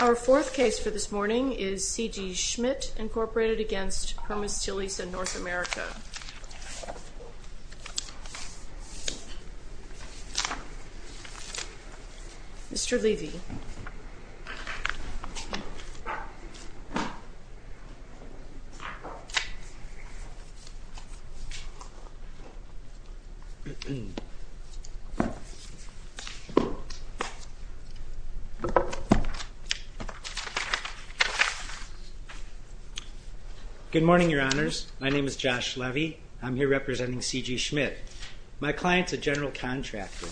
Our fourth case for this morning is C.G. Schmidt Incorporated v. Permasteelisa North America. Mr. Levy. Good morning, Your Honors. My name is Josh Levy. I'm here representing C.G. Schmidt. My client's a general contractor.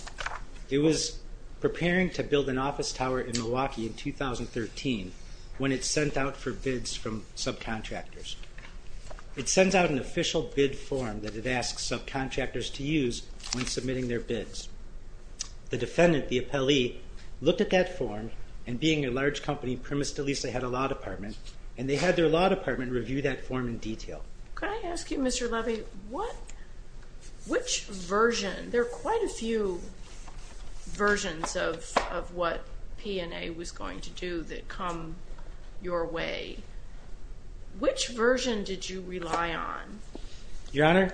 It was preparing to build an office tower in Milwaukee in 2013 when it sent out for bids from subcontractors. It sends out an official bid form that it asks subcontractors to use when submitting their bids. The defendant, the appellee, looked at that form, and being a large company, Permasteelisa had a law department, and they had their law department review that form in detail. Could I ask you, Mr. Levy, which version? There are quite a few versions of what P&A was going to do that come your way. Which version did you rely on? Your Honor,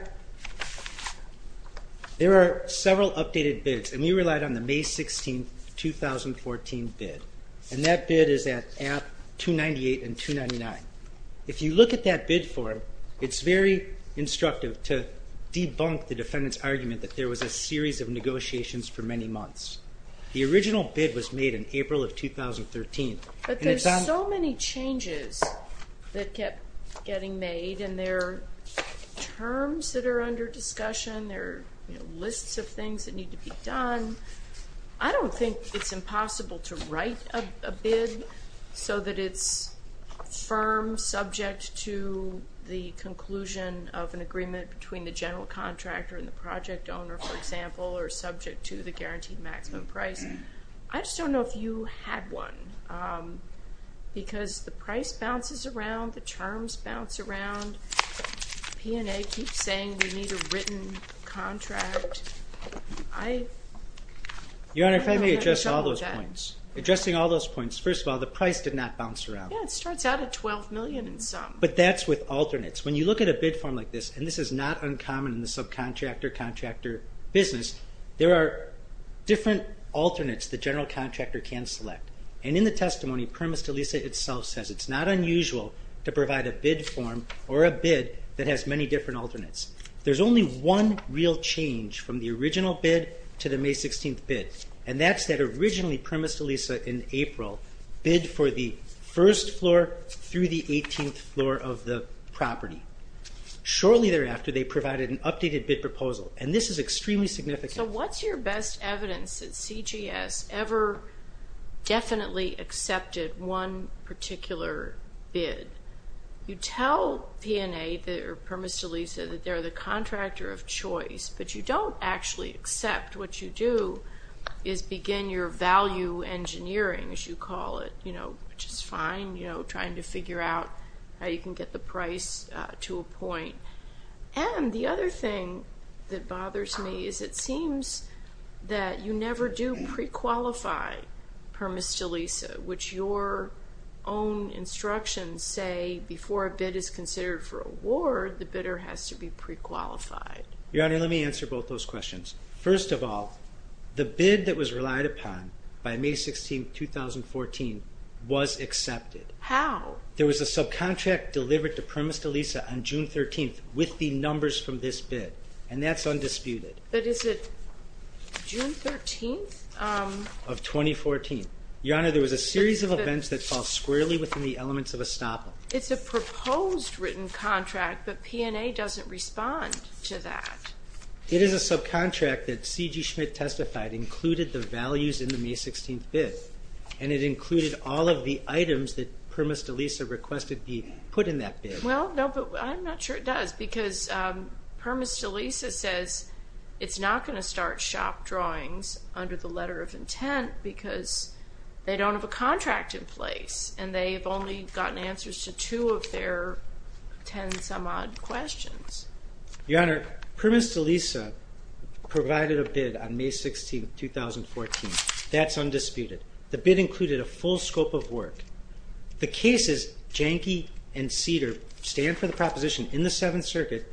there are several updated bids, and we relied on the May 16, 2014 bid. And that bid is at app 298 and 299. If you look at that bid form, it's very instructive to debunk the defendant's argument that there was a series of negotiations for many months. The original bid was made in April of 2013. But there's so many changes that kept getting made, and there are terms that are under discussion. There are lists of things that need to be done. I don't think it's impossible to write a bid so that it's firm, subject to the conclusion of an agreement between the general contractor and the project owner, for example, or subject to the guaranteed maximum price. I just don't know if you had one, because the price bounces around, the terms bounce around. P&A keeps saying we need a written contract. Your Honor, if I may address all those points. Addressing all those points. First of all, the price did not bounce around. Yeah, it starts out at $12 million and some. But that's with alternates. When you look at a bid form like this, and this is not uncommon in the subcontractor-contractor business, there are different alternates the general contractor can select. And in the testimony, P&A itself says it's not unusual to provide a bid form or a bid that has many different alternates. There's only one real change from the original bid to the May 16th bid. And that's that originally P&A in April bid for the first floor through the 18th floor of the property. Shortly thereafter, they provided an updated bid proposal. And this is extremely significant. So what's your best evidence that CGS ever definitely accepted one particular bid? You tell P&A or Permis de Lisa that they're the contractor of choice, but you don't actually accept. What you do is begin your value engineering, as you call it, which is fine, trying to figure out how you can get the price to a point. And the other thing that bothers me is it seems that you never do pre-qualify Permis de Lisa, which your own instructions say before a bid is considered for award, the bidder has to be pre-qualified. Your Honor, let me answer both those questions. First of all, the bid that was relied upon by May 16th, 2014 was accepted. How? There was a subcontract delivered to Permis de Lisa on June 13th with the numbers from this bid, and that's undisputed. But is it June 13th? Of 2014. Your Honor, there was a series of events that fall squarely within the elements of a stop-off. It's a proposed written contract, but P&A doesn't respond to that. It is a subcontract that C.G. Schmidt testified included the values in the May 16th bid, and it included all of the items that Permis de Lisa requested be put in that bid. Well, no, but I'm not sure it does because Permis de Lisa says it's not going to start shop drawings under the letter of intent because they don't have a contract in place, and they've only gotten answers to two of their ten-some-odd questions. Your Honor, Permis de Lisa provided a bid on May 16th, 2014. That's undisputed. The bid included a full scope of work. The cases, Janke and Cedar, stand for the proposition in the Seventh Circuit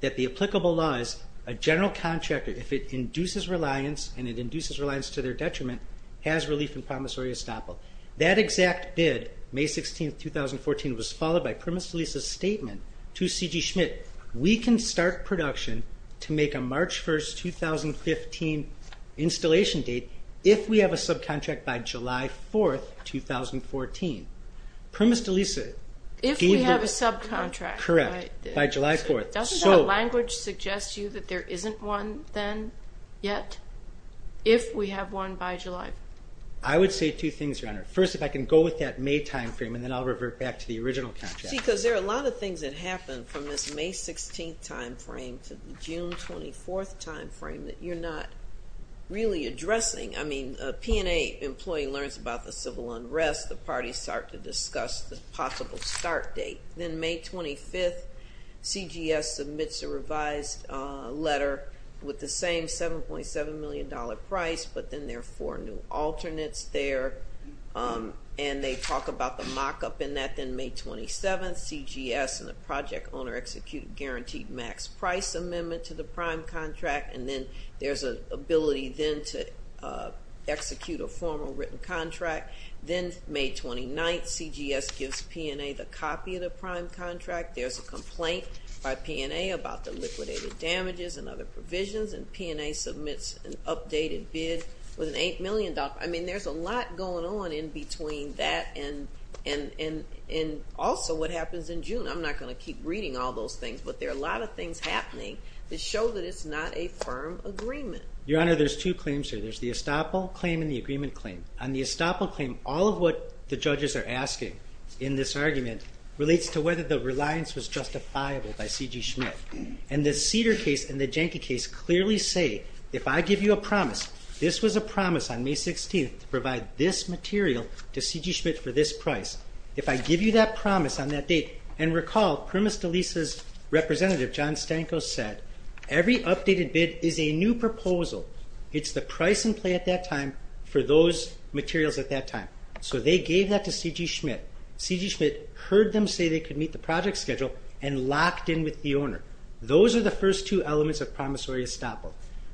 that the applicable law is a general contractor, if it induces reliance and it induces reliance to their detriment, has relief and promissory estoppel. That exact bid, May 16th, 2014, was followed by Permis de Lisa's statement to C.G. Schmidt, we can start production to make a March 1st, 2015, installation date if we have a subcontract by July 4th, 2014. Permis de Lisa gave the word. If we have a subcontract. Correct, by July 4th. Doesn't that language suggest to you that there isn't one then yet, if we have one by July 4th? I would say two things, Your Honor. First, if I can go with that May timeframe, and then I'll revert back to the original contract. See, because there are a lot of things that happen from this May 16th timeframe to the June 24th timeframe that you're not really addressing. I mean, a P&A employee learns about the civil unrest, the parties start to discuss the possible start date. Then May 25th, CGS submits a revised letter with the same $7.7 million price, but then there are four new alternates there, and they talk about the mock-up in that. Then May 27th, CGS and the project owner execute a guaranteed max price amendment to the prime contract, and then there's an ability then to execute a formal written contract. Then May 29th, CGS gives P&A the copy of the prime contract. There's a complaint by P&A about the liquidated damages and other provisions, and P&A submits an updated bid with an $8 million. I mean, there's a lot going on in between that and also what happens in June. I'm not going to keep reading all those things, but there are a lot of things happening that show that it's not a firm agreement. Your Honor, there's two claims here. There's the estoppel claim and the agreement claim. On the estoppel claim, all of what the judges are asking in this argument relates to whether the reliance was justifiable by C.G. Schmidt. And the Cedar case and the Janky case clearly say, if I give you a promise, this was a promise on May 16th, to provide this material to C.G. Schmidt for this price. If I give you that promise on that date, and recall Primus DeLisa's representative, John Stanko, said, every updated bid is a new proposal. It's the price in play at that time for those materials at that time. So they gave that to C.G. Schmidt. C.G. Schmidt heard them say they could meet the project schedule and locked in with the owner. Those are the first two elements of promissory estoppel.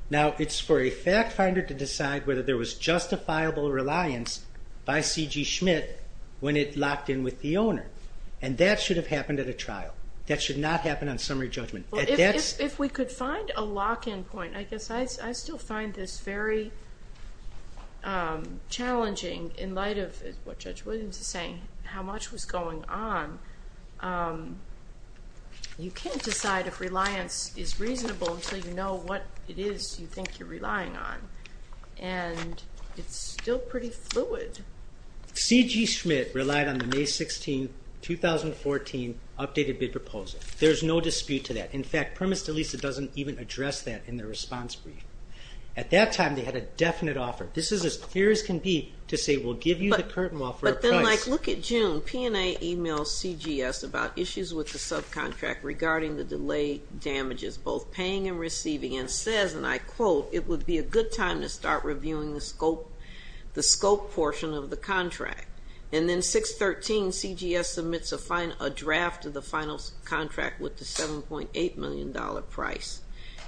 Now, it's for a fact finder to decide whether there was justifiable reliance by C.G. Schmidt when it locked in with the owner. And that should have happened at a trial. That should not happen on summary judgment. If we could find a lock-in point, I guess I still find this very challenging in light of what Judge Williams is saying, how much was going on. You can't decide if reliance is reasonable until you know what it is you think you're relying on. And it's still pretty fluid. C.G. Schmidt relied on the May 16, 2014 updated bid proposal. There's no dispute to that. In fact, Primus DeLisa doesn't even address that in their response brief. At that time, they had a definite offer. This is as clear as can be to say we'll give you the curtain wall for a price. But then, like, look at June. P&A emails C.G.S. about issues with the subcontract regarding the delay damages, both paying and receiving, and says, and I quote, it would be a good time to start reviewing the scope portion of the contract. And then 6-13, C.G.S. submits a draft of the final contract with the $7.8 million price.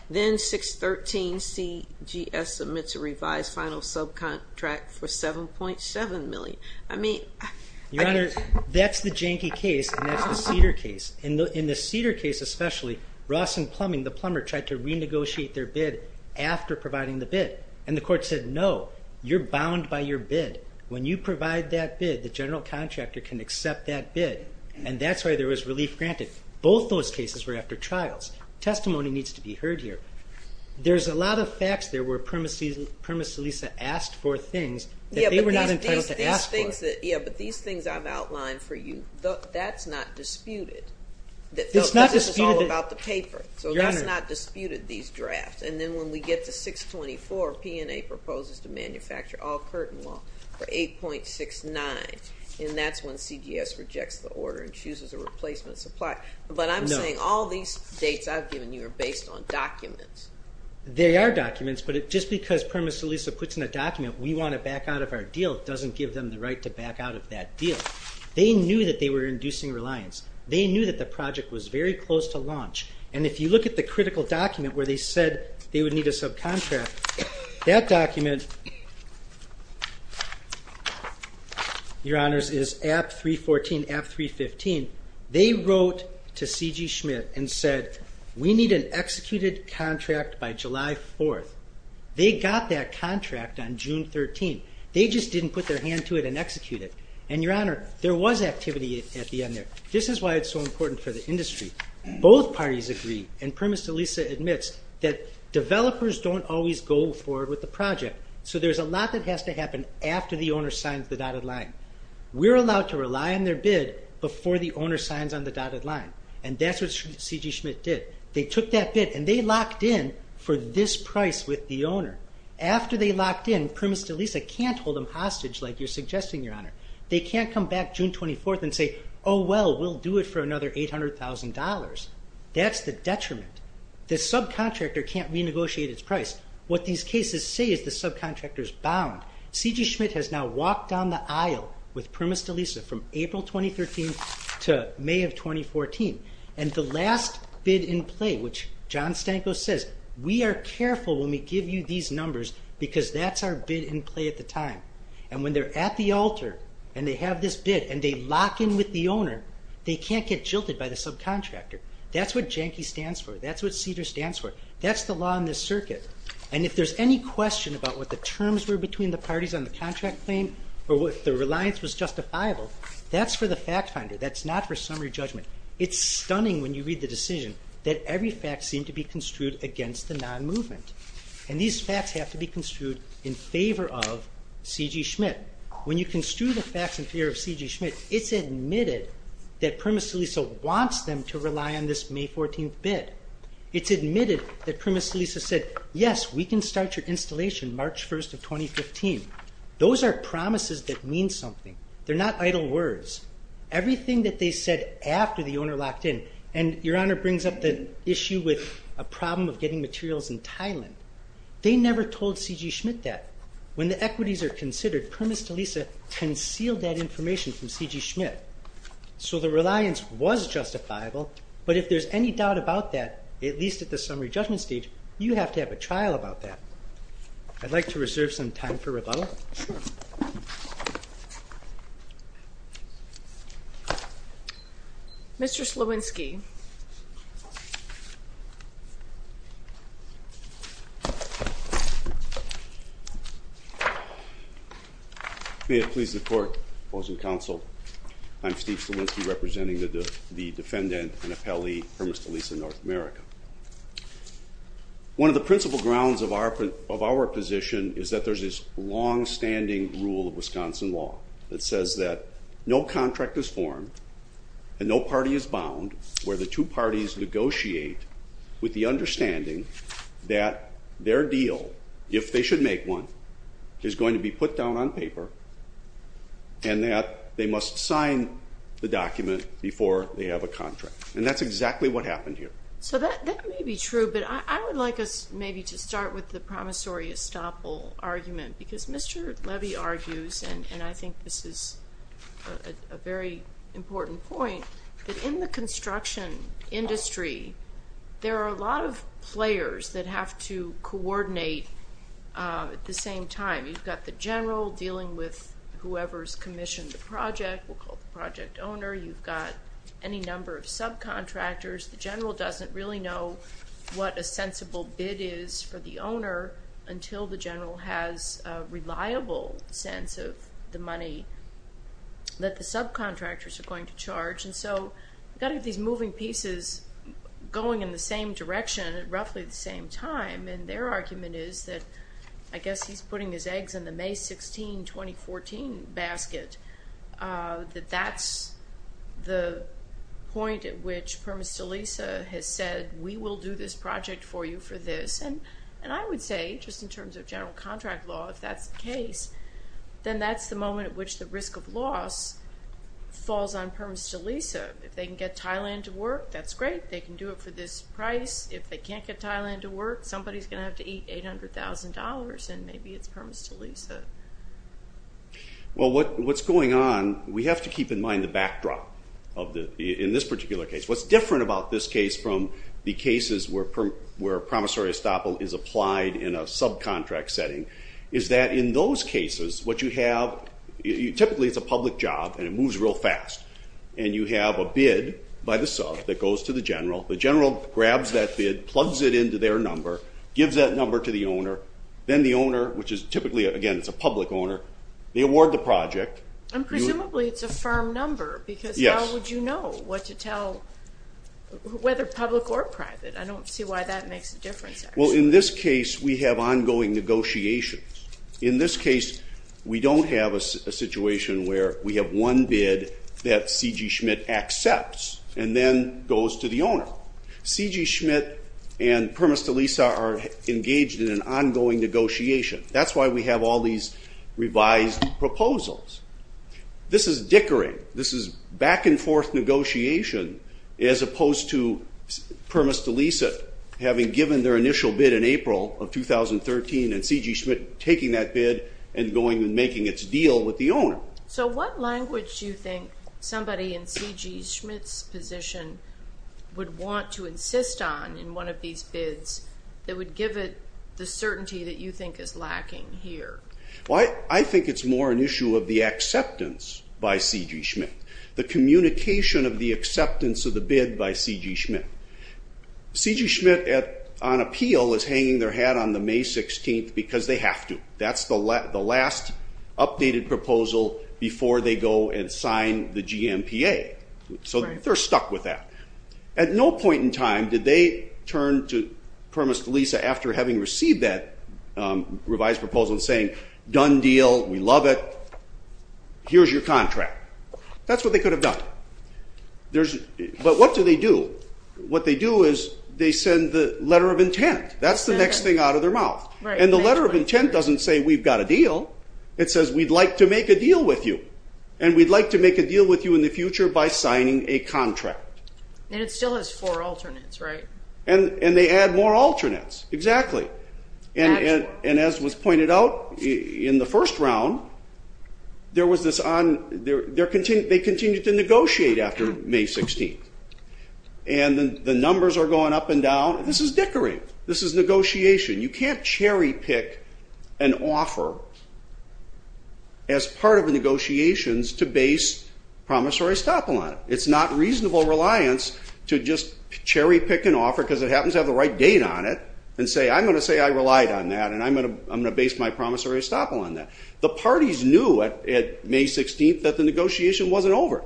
Then 6-13, C.G.S. submits a revised final subcontract for $7.7 million. I mean, I can't. Your Honor, that's the Janky case, and that's the Cedar case. In the Cedar case especially, Ross and Plumbing, the plumber, tried to renegotiate their bid after providing the bid. And the court said, no, you're bound by your bid. When you provide that bid, the general contractor can accept that bid. And that's why there was relief granted. Both those cases were after trials. Testimony needs to be heard here. There's a lot of facts there where Primus Lisa asked for things that they were not entitled to ask for. Yeah, but these things I've outlined for you, that's not disputed. This is all about the paper. So that's not disputed, these drafts. And then when we get to 6-24, P&A proposes to manufacture all curtain wall for 8.69, and that's when C.G.S. rejects the order and chooses a replacement supplier. But I'm saying all these dates I've given you are based on documents. They are documents, but just because Primus Lisa puts in a document, we want to back out of our deal, doesn't give them the right to back out of that deal. They knew that they were inducing reliance. They knew that the project was very close to launch. And if you look at the critical document where they said they would need a subcontract, that document, Your Honors, is App 314, App 315. They wrote to C.G. Schmidt and said, We need an executed contract by July 4th. They got that contract on June 13th. They just didn't put their hand to it and execute it. And, Your Honor, there was activity at the end there. This is why it's so important for the industry. Both parties agree, and Primus Delisa admits, that developers don't always go forward with the project. So there's a lot that has to happen after the owner signs the dotted line. We're allowed to rely on their bid before the owner signs on the dotted line. And that's what C.G. Schmidt did. They took that bid, and they locked in for this price with the owner. After they locked in, Primus Delisa can't hold them hostage like you're suggesting, Your Honor. They can't come back June 24th and say, Oh, well, we'll do it for another $800,000. That's the detriment. The subcontractor can't renegotiate its price. What these cases say is the subcontractor's bound. C.G. Schmidt has now walked down the aisle with Primus Delisa from April 2013 to May of 2014. And the last bid in play, which John Stanko says, We are careful when we give you these numbers, because that's our bid in play at the time. And when they're at the altar, and they have this bid, and they lock in with the owner, they can't get jilted by the subcontractor. That's what Jenke stands for. That's what Cedar stands for. That's the law in this circuit. And if there's any question about what the terms were between the parties on the contract claim, or if the reliance was justifiable, that's for the fact finder. That's not for summary judgment. It's stunning when you read the decision that every fact seemed to be construed against the non-movement. And these facts have to be construed in favor of C.G. Schmidt. When you construe the facts in favor of C.G. Schmidt, it's admitted that Primus Delisa wants them to rely on this May 14th bid. It's admitted that Primus Delisa said, Yes, we can start your installation March 1st of 2015. Those are promises that mean something. They're not idle words. Everything that they said after the owner locked in, and Your Honor brings up the issue with a problem of getting materials in Thailand, they never told C.G. Schmidt that. When the equities are considered, Primus Delisa concealed that information from C.G. Schmidt. So the reliance was justifiable, but if there's any doubt about that, at least at the summary judgment stage, you have to have a trial about that. I'd like to reserve some time for rebuttal. Sure. Mr. Slawinski. May it please the Court, foes and counsel. I'm Steve Slawinski, representing the defendant and appellee, Primus Delisa, North America. One of the principal grounds of our position is that there's this longstanding rule of Wisconsin law that says that no contract is formed and no party is bound, where the two parties negotiate with the understanding that their deal, if they should make one, is going to be put down on paper and that they must sign the document before they have a contract. And that's exactly what happened here. So that may be true, but I would like us maybe to start with the promissory estoppel argument, because Mr. Levy argues, and I think this is a very important point, that in the construction industry, there are a lot of players that have to coordinate at the same time. You've got the general dealing with whoever's commissioned the project, we'll call the project owner. You've got any number of subcontractors. The general doesn't really know what a sensible bid is for the owner until the general has a reliable sense of the money that the subcontractors are going to charge. And so you've got to get these moving pieces going in the same direction at roughly the same time, and their argument is that, I guess he's putting his eggs in the May 16, 2014 basket, that that's the point at which Permis de Lisa has said, we will do this project for you for this. And I would say, just in terms of general contract law, if that's the case, then that's the moment at which the risk of loss falls on Permis de Lisa. If they can get Thailand to work, that's great. They can do it for this price. If they can't get Thailand to work, somebody's going to have to eat $800,000, and maybe it's Permis de Lisa. Well, what's going on, we have to keep in mind the backdrop in this particular case. What's different about this case from the cases where promissory estoppel is applied in a subcontract setting is that in those cases, what you have, typically it's a public job, and it moves real fast, and you have a bid by the sub that goes to the general. The general grabs that bid, plugs it into their number, gives that number to the owner. Then the owner, which is typically, again, it's a public owner, they award the project. And presumably it's a firm number, because how would you know what to tell, whether public or private? I don't see why that makes a difference, actually. Well, in this case, we have ongoing negotiations. In this case, we don't have a situation where we have one bid that C.G. Schmidt accepts and then goes to the owner. C.G. Schmidt and Permis de Lisa are engaged in an ongoing negotiation. That's why we have all these revised proposals. This is dickering. This is back-and-forth negotiation, as opposed to Permis de Lisa having given their initial bid in April of 2013 and C.G. Schmidt taking that bid and going and making its deal with the owner. So what language do you think would want to insist on in one of these bids that would give it the certainty that you think is lacking here? Well, I think it's more an issue of the acceptance by C.G. Schmidt, the communication of the acceptance of the bid by C.G. Schmidt. C.G. Schmidt, on appeal, is hanging their hat on the May 16th because they have to. That's the last updated proposal before they go and sign the G.M.P.A. So they're stuck with that. At no point in time did they turn to Permis de Lisa after having received that revised proposal and saying, done deal, we love it, here's your contract. That's what they could have done. But what do they do? What they do is they send the letter of intent. That's the next thing out of their mouth. And the letter of intent doesn't say, we've got a deal. It says, we'd like to make a deal with you. And we'd like to make a deal with you in the future by signing a contract. And it still has four alternates, right? And they add more alternates, exactly. And as was pointed out in the first round, they continue to negotiate after May 16th. And the numbers are going up and down. This is dickery. This is negotiation. You can't cherry pick an offer as part of the negotiations to base promissory estoppel on it. It's not reasonable reliance to just cherry pick an offer because it happens to have the right date on it and say, I'm going to say I relied on that and I'm going to base my promissory estoppel on that. The parties knew at May 16th that the negotiation wasn't over.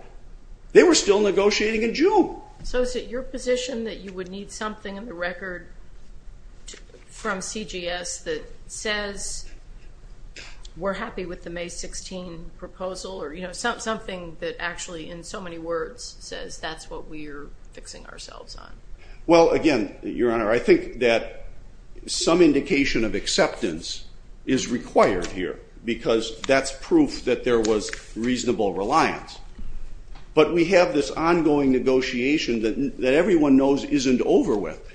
They were still negotiating in June. So is it your position that you would need something in the record from CGS that says we're happy with the May 16 proposal? Or something that actually, in so many words, says that's what we're fixing ourselves on? Well, again, Your Honor, I think that some indication of acceptance is required here because that's proof that there was reasonable reliance. But we have this ongoing negotiation that everyone knows isn't over with.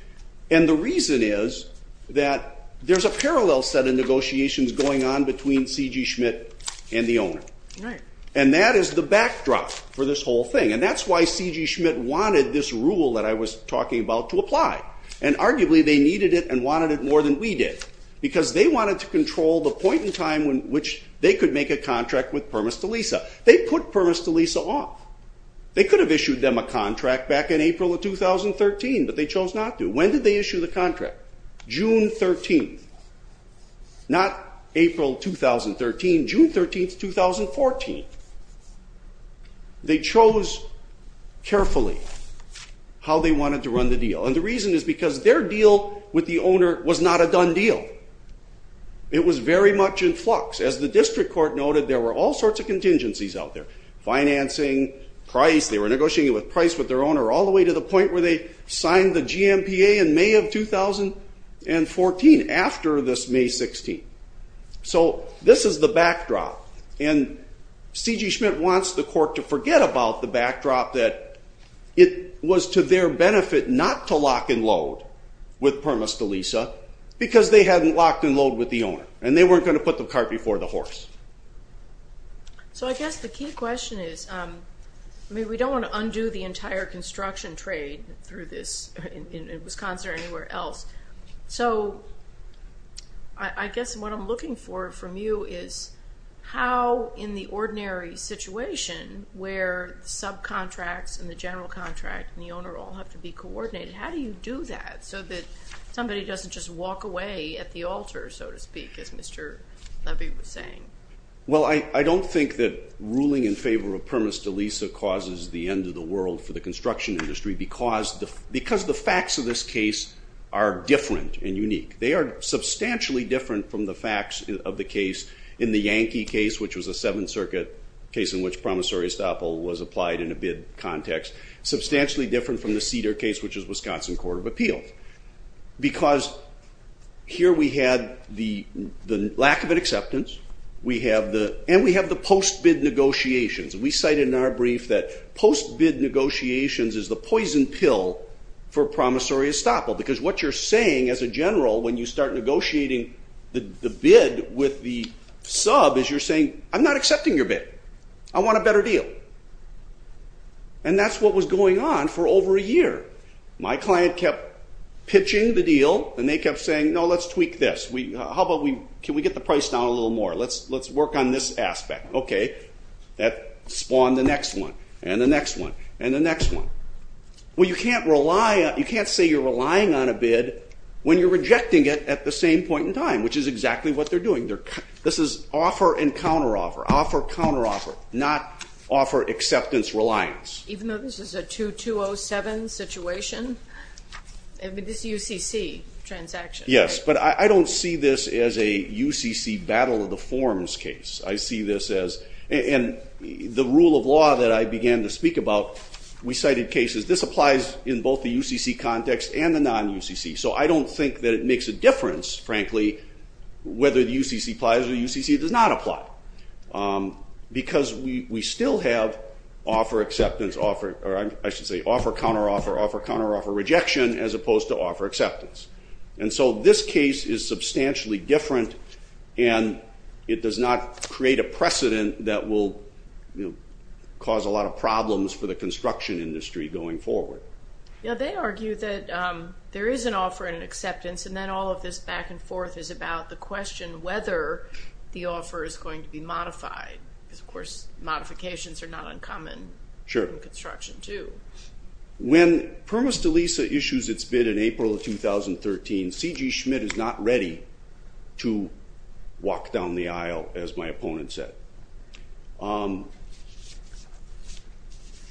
And the reason is that there's a parallel set of negotiations going on between C.G. Schmidt and the owner. And that is the backdrop for this whole thing. And that's why C.G. Schmidt wanted this rule that I was talking about to apply. And arguably, they needed it and wanted it more than we did because they wanted to control the point in time in which they could make a contract with Permis de Lisa. They put Permis de Lisa off. They could have issued them a contract back in April of 2013, but they chose not to. When did they issue the contract? June 13. Not April 2013. June 13, 2014. They chose carefully how they wanted to run the deal. And the reason is because their deal with the owner was not a done deal. It was very much in flux. As the district court noted, there were all sorts of contingencies out there, financing, price. They were negotiating with price with their owner all the way to the point where they signed the GMPA in May of 2014, after this May 16. So this is the backdrop. And C.G. Schmidt wants the court to forget about the backdrop that it was to their benefit not to lock and load and load with the owner. And they weren't going to put the cart before the horse. So I guess the key question is, I mean, we don't want to undo the entire construction trade through this in Wisconsin or anywhere else. So I guess what I'm looking for from you is how in the ordinary situation where subcontracts and the general contract and the owner all have to be coordinated, how do you do that so that somebody doesn't just walk away at the altar, so to speak, as Mr. Levy was saying? Well, I don't think that ruling in favor of premise de lisa causes the end of the world for the construction industry because the facts of this case are different and unique. They are substantially different from the facts of the case in the Yankee case, which was a Seventh Circuit case in which promissory estoppel was applied in a bid context. Substantially different from the Cedar case, which is Wisconsin Court of Appeal. Because here we had the lack of an acceptance and we have the post-bid negotiations. We cite in our brief that post-bid negotiations is the poison pill for promissory estoppel because what you're saying as a general when you start negotiating the bid with the sub is you're saying, I'm not accepting your bid. I want a better deal. And that's what was going on for over a year. My client kept pitching the deal and they kept saying, no, let's tweak this. Can we get the price down a little more? Let's work on this aspect. OK. That spawned the next one and the next one and the next one. Well, you can't say you're relying on a bid when you're rejecting it at the same point in time, which is exactly what they're doing. This is offer and counteroffer. Offer, counteroffer, not offer, acceptance, reliance. Even though this is a 2207 situation? I mean, this UCC transaction. Yes, but I don't see this as a UCC battle of the forms case. And the rule of law that I began to speak about, we cited cases. This applies in both the UCC context and the non-UCC. So I don't think that it makes a difference, frankly, whether the UCC applies or the UCC does not apply because we still have offer, acceptance, offer, or I should say offer, counteroffer, offer, counteroffer, rejection as opposed to offer, acceptance. And so this case is substantially different and it does not create a precedent that will cause a lot of problems for the construction industry going forward. Yeah, they argue that there is an offer and an acceptance and then all of this back and forth is about the question whether the offer is going to be modified because, of course, modifications are not uncommon in construction too. When Permus de Lisa issues its bid in April of 2013, C.G. Schmidt is not ready to walk down the aisle, as my opponent said.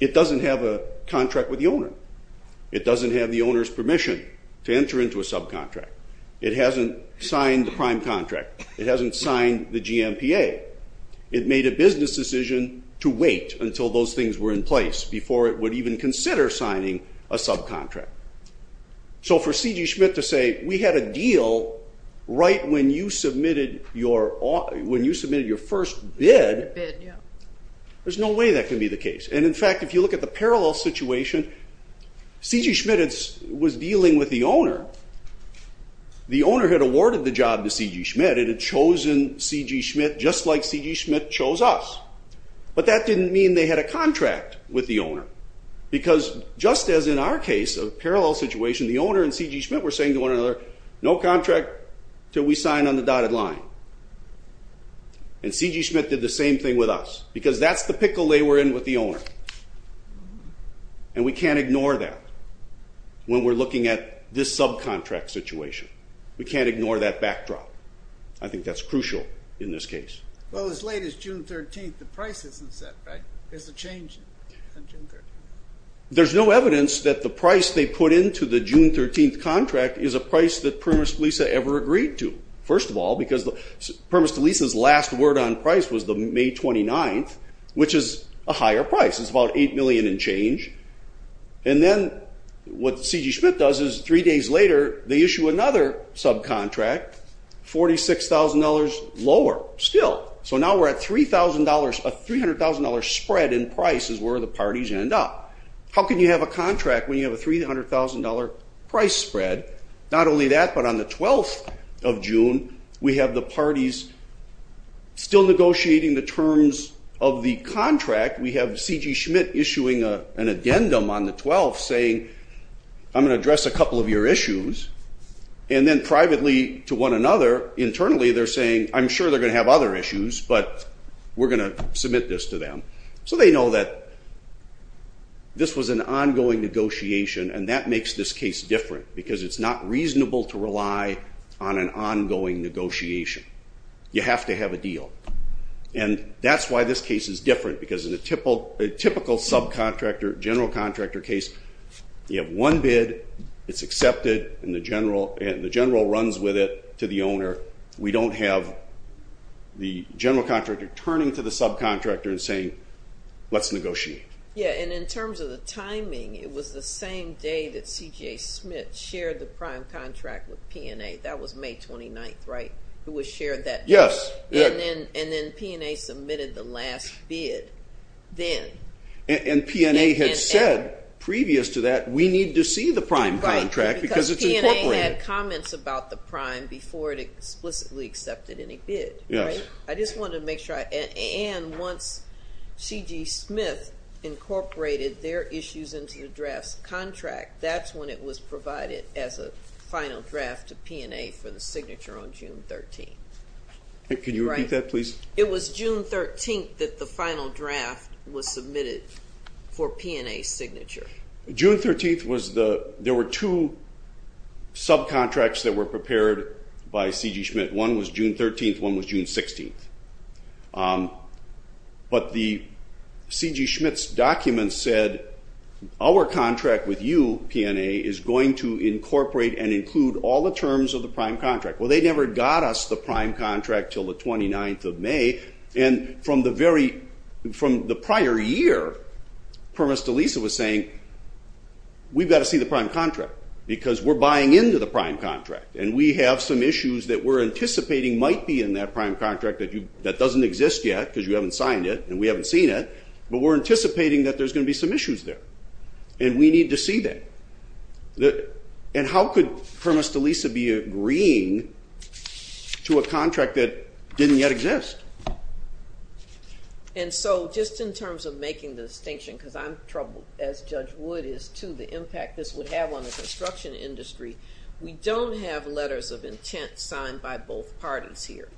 It doesn't have a contract with the owner. It doesn't have the owner's permission to enter into a subcontract. It hasn't signed the prime contract. It hasn't signed the GMPA. It made a business decision to wait until those things were in place before it would even consider signing a subcontract. So for C.G. Schmidt to say, we had a deal right when you submitted your first bid, there's no way that can be the case. And, in fact, if you look at the parallel situation, C.G. Schmidt was dealing with the owner The owner had awarded the job to C.G. Schmidt and had chosen C.G. Schmidt just like C.G. Schmidt chose us. But that didn't mean they had a contract with the owner because, just as in our case, a parallel situation, the owner and C.G. Schmidt were saying to one another, no contract till we sign on the dotted line. And C.G. Schmidt did the same thing with us because that's the pickle they were in with the owner. And we can't ignore that when we're looking at this subcontract situation. We can't ignore that backdrop. I think that's crucial in this case. Well, as late as June 13th, the price isn't set, right? There's a change on June 13th. There's no evidence that the price they put into the June 13th contract is a price that Permis de Lisa ever agreed to. First of all, because Permis de Lisa's last word on price was the May 29th, which is a higher price. It's about $8 million and change. And then what C.G. Schmidt does is, three days later, they issue another subcontract, $46,000 lower still. So now we're at $300,000 spread in price is where the parties end up. How can you have a contract when you have a $300,000 price spread? Not only that, but on the 12th of June, we have the parties still negotiating the terms of the contract. We have C.G. Schmidt issuing an addendum on the 12th saying, I'm going to address a couple of your issues. And then privately to one another, internally they're saying, I'm sure they're going to have other issues, but we're going to submit this to them. So they know that this was an ongoing negotiation, and that makes this case different, because it's not reasonable to rely on an ongoing negotiation. You have to have a deal. And that's why this case is different, because in a typical subcontractor, general contractor case, you have one bid, it's accepted, and the general runs with it to the owner. We don't have the general contractor turning to the subcontractor and saying, let's negotiate. Yeah, and in terms of the timing, it was the same day that C.J. Schmidt shared the prime contract with P&A. That was May 29th, right, who shared that? Yes. And then P&A submitted the last bid then. And P&A had said previous to that, we need to see the prime contract, because it's incorporated. Right, because P&A had comments about the prime before it explicitly accepted any bid, right? Yes. I just wanted to make sure. And once C.J. Schmidt incorporated their issues into the draft contract, that's when it was provided as a final draft to P&A for the signature on June 13th. Can you repeat that, please? It was June 13th that the final draft was submitted for P&A's signature. June 13th was the – there were two subcontracts that were prepared by C.J. Schmidt. One was June 13th, one was June 16th. But C.J. Schmidt's document said, our contract with you, P&A, is going to incorporate and include all the terms of the prime contract. Well, they never got us the prime contract until the 29th of May. And from the prior year, Primus Delisa was saying, we've got to see the prime contract because we're buying into the prime contract and we have some issues that we're anticipating might be in that prime contract that doesn't exist yet because you haven't signed it and we haven't seen it, but we're anticipating that there's going to be some issues there, and we need to see that. And how could Primus Delisa be agreeing to a contract that didn't yet exist? And so just in terms of making the distinction, because I'm troubled, as Judge Wood is, to the impact this would have on the construction industry, we don't have letters of intent signed by both parties here.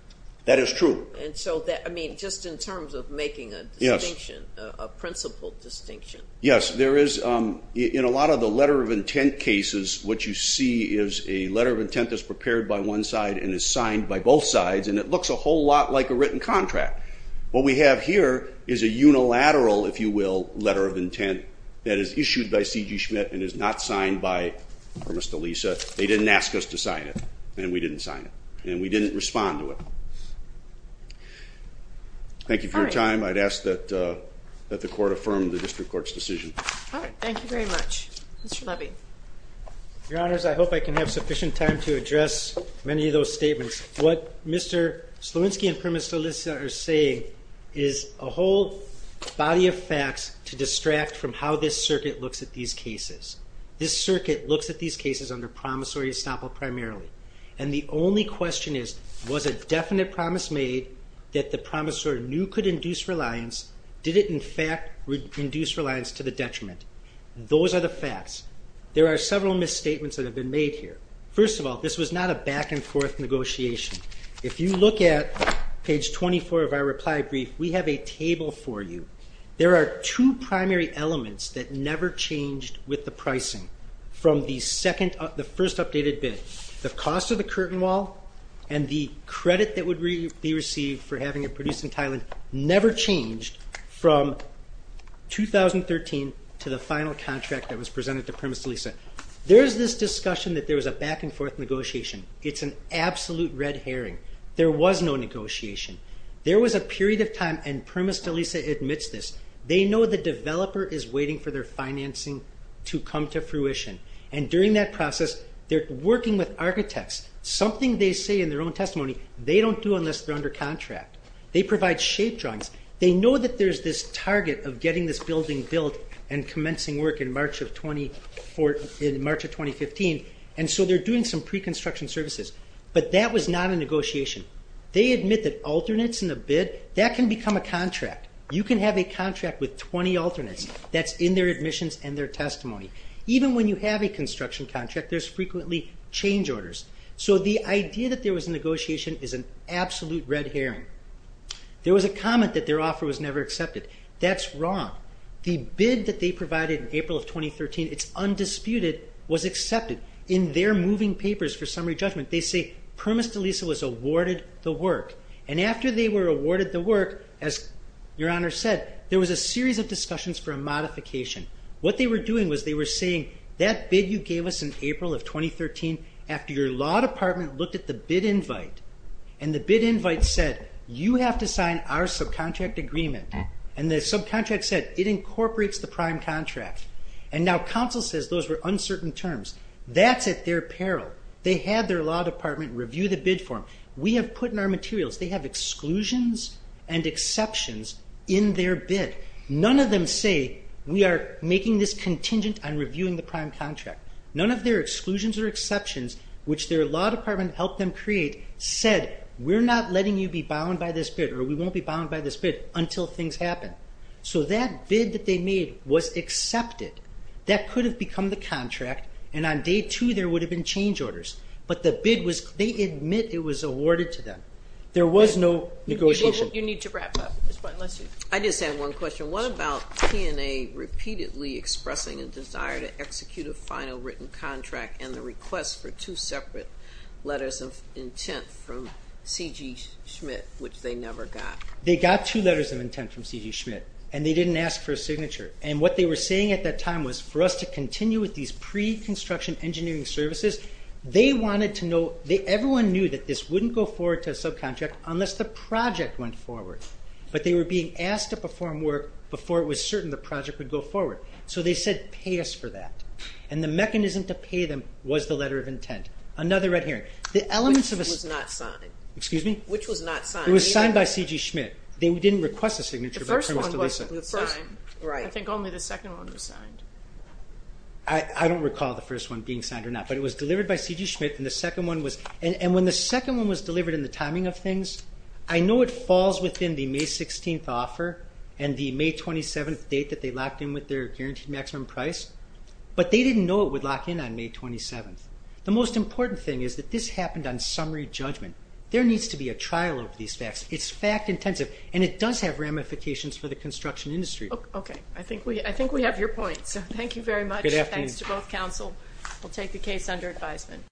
That is true. And so, I mean, just in terms of making a distinction, a principled distinction. Yes, there is. In a lot of the letter of intent cases, what you see is a letter of intent that's prepared by one side and is signed by both sides, and it looks a whole lot like a written contract. What we have here is a unilateral, if you will, letter of intent that is issued by C.J. Schmidt and is not signed by Primus Delisa. They didn't ask us to sign it, and we didn't sign it, and we didn't respond to it. Thank you for your time. I'd ask that the Court affirm the District Court's decision. All right. Thank you very much. Mr. Levy. Your Honors, I hope I can have sufficient time to address many of those statements. What Mr. Slowinski and Primus Delisa are saying is a whole body of facts to distract from how this circuit looks at these cases. This circuit looks at these cases under promissory estoppel primarily, and the only question is, was a definite promise made that the promissory knew could induce reliance? Did it, in fact, induce reliance to the detriment? Those are the facts. There are several misstatements that have been made here. First of all, this was not a back-and-forth negotiation. If you look at page 24 of our reply brief, we have a table for you. There are two primary elements that never changed with the pricing from the first updated bid. The cost of the curtain wall and the credit that would be received for having it produced in Thailand never changed from 2013 to the final contract that was presented to Primus Delisa. There is this discussion that there was a back-and-forth negotiation. It's an absolute red herring. There was no negotiation. There was a period of time, and Primus Delisa admits this. They know the developer is waiting for their financing to come to fruition, and during that process, they're working with architects. Something they say in their own testimony they don't do unless they're under contract. They provide shape drawings. They know that there's this target of getting this building built and commencing work in March of 2015, and so they're doing some pre-construction services. But that was not a negotiation. They admit that alternates in the bid, that can become a contract. You can have a contract with 20 alternates. That's in their admissions and their testimony. Even when you have a construction contract, there's frequently change orders. So the idea that there was a negotiation is an absolute red herring. There was a comment that their offer was never accepted. That's wrong. The bid that they provided in April of 2013, it's undisputed, was accepted. In their moving papers for summary judgment, they say Primus Delisa was awarded the work, and after they were awarded the work, as Your Honor said, there was a series of discussions for a modification. What they were doing was they were saying, that bid you gave us in April of 2013, after your law department looked at the bid invite, and the bid invite said, you have to sign our subcontract agreement. And the subcontract said, it incorporates the prime contract. And now counsel says those were uncertain terms. That's at their peril. They had their law department review the bid form. We have put in our materials, they have exclusions and exceptions in their bid. None of them say, we are making this contingent on reviewing the prime contract. None of their exclusions or exceptions, which their law department helped them create, said, we're not letting you be bound by this bid, or we won't be bound by this bid until things happen. So that bid that they made was accepted. That could have become the contract, and on day two there would have been change orders. But the bid was, they admit it was awarded to them. There was no negotiation. You need to wrap up. I just have one question. What about P&A repeatedly expressing a desire to execute a final written contract and the request for two separate letters of intent from C.G. Schmidt, which they never got? They got two letters of intent from C.G. Schmidt, and they didn't ask for a signature. And what they were saying at that time was for us to continue with these pre-construction engineering services. They wanted to know, everyone knew that this wouldn't go forward to a subcontract unless the project went forward. But they were being asked to perform work before it was certain the project would go forward. So they said, pay us for that. And the mechanism to pay them was the letter of intent. Another red herring. Which was not signed? Excuse me? Which was not signed? It was signed by C.G. Schmidt. They didn't request a signature. The first one wasn't signed. I think only the second one was signed. I don't recall the first one being signed or not. But it was delivered by C.G. Schmidt, and the second one was... And the May 27th date that they locked in with their guaranteed maximum price. But they didn't know it would lock in on May 27th. The most important thing is that this happened on summary judgment. There needs to be a trial of these facts. It's fact intensive. And it does have ramifications for the construction industry. Okay. I think we have your point. So thank you very much. Good afternoon. Thanks to both counsel. We'll take the case under advisement.